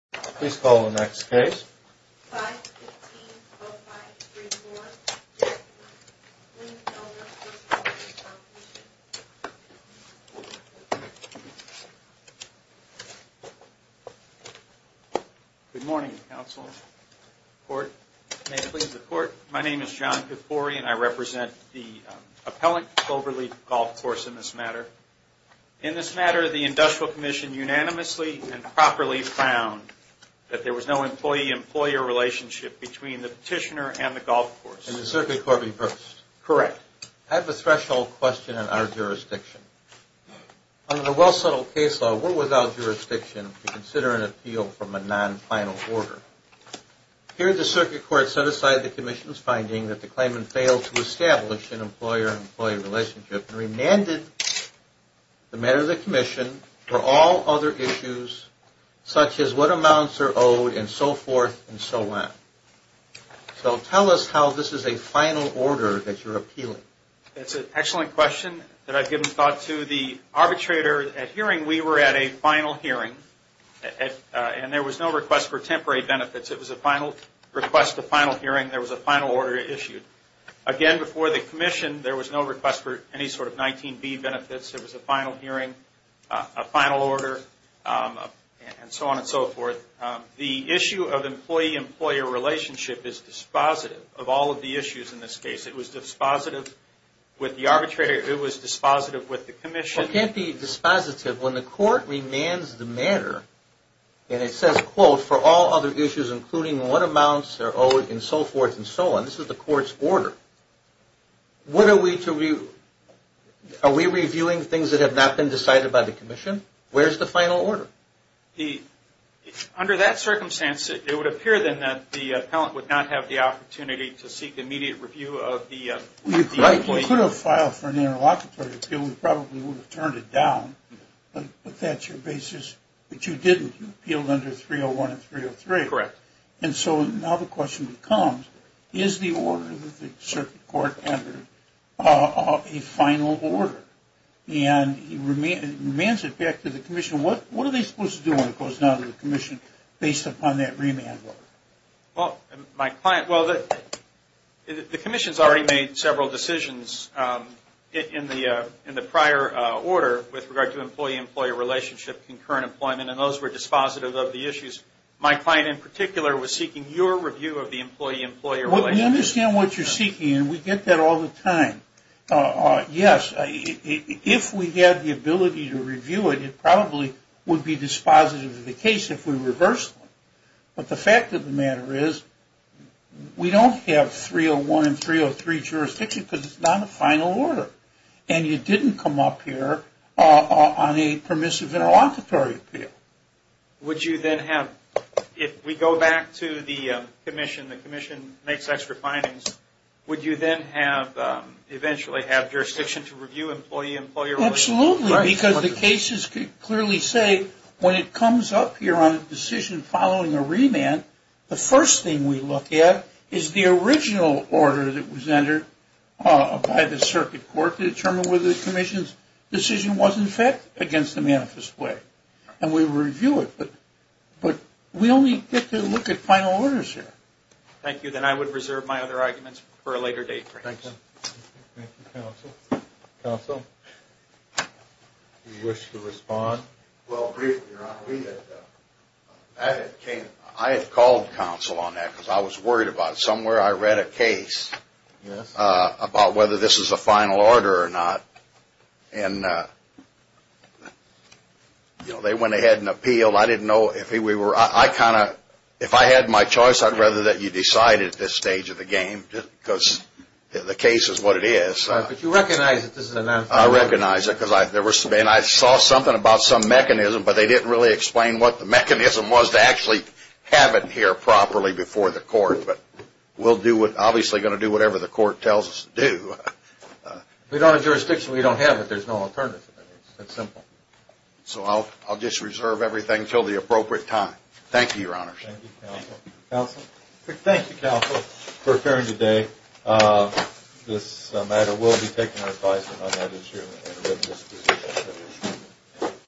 Please call the next case. 515-0534, Lingenfelter v. Workers' Comp'nation. Good morning, Counsel. Court, may it please the Court. My name is John Kifori and I represent the appellant, Cloverleaf Golf Course, in this matter. In this matter, the Industrial Commission unanimously and properly found that there was no employee-employer relationship between the petitioner and the golf course. And the Circuit Court reversed. Correct. I have a threshold question in our jurisdiction. Under the well-subtle case law, we're without jurisdiction to consider an appeal from a non-final order. Here, the Circuit Court set aside the Commission's finding that the claimant failed to establish an employer-employee relationship and remanded the matter to the Commission for all other issues, such as what amounts are owed and so forth and so on. So tell us how this is a final order that you're appealing. That's an excellent question that I've given thought to. The arbitrator at hearing, we were at a final hearing, and there was no request for temporary benefits. It was a final request, a final hearing. There was a final order issued. Again, before the Commission, there was no request for any sort of 19B benefits. There was a final hearing, a final order, and so on and so forth. The issue of employee-employer relationship is dispositive of all of the issues in this case. It was dispositive with the arbitrator. It was dispositive with the Commission. Well, it can't be dispositive. including what amounts are owed and so forth and so on. This is the Court's order. What are we to review? Are we reviewing things that have not been decided by the Commission? Where's the final order? Under that circumstance, it would appear then that the appellant would not have the opportunity to seek immediate review of the… We could have filed for an interlocutory appeal. We probably would have turned it down, but that's your basis. But you didn't. You appealed under 301 and 303. Correct. And so now the question becomes, is the order that the Circuit Court entered a final order? And it remains it back to the Commission. What are they supposed to do when it goes down to the Commission based upon that remand order? Well, the Commission has already made several decisions in the prior order with regard to employment, and those were dispositive of the issues. My client in particular was seeking your review of the employee-employer relationship. We understand what you're seeking, and we get that all the time. Yes, if we had the ability to review it, it probably would be dispositive of the case if we reversed it. But the fact of the matter is we don't have 301 and 303 jurisdiction because it's not a final order. And you didn't come up here on a permissive interlocutory appeal. Would you then have, if we go back to the Commission, the Commission makes extra findings, would you then eventually have jurisdiction to review employee-employer relations? Absolutely, because the cases clearly say when it comes up here on a decision following a remand, the first thing we look at is the original order that was entered by the Circuit Court to determine whether the Commission's decision was, in fact, against the manifest way. And we review it, but we only get to look at final orders here. Thank you. Then I would reserve my other arguments for a later date, perhaps. Thank you. Thank you, counsel. Counsel, do you wish to respond? Well, briefly, Your Honor, I had called counsel on that because I was worried about it. Somewhere I read a case about whether this is a final order or not. And, you know, they went ahead and appealed. I didn't know if we were – I kind of – if I had my choice, I'd rather that you decide at this stage of the game because the case is what it is. But you recognize that this is a manifest order. I recognize it. And I saw something about some mechanism, but they didn't really explain what the mechanism was to actually have it here properly before the court. But we'll do what – obviously going to do whatever the court tells us to do. We don't have jurisdiction. We don't have it. There's no alternative. It's simple. So I'll just reserve everything until the appropriate time. Thank you, Your Honor. Thank you, counsel. Counsel? Thank you, counsel, for appearing today. This matter will be taken into consideration on that issue.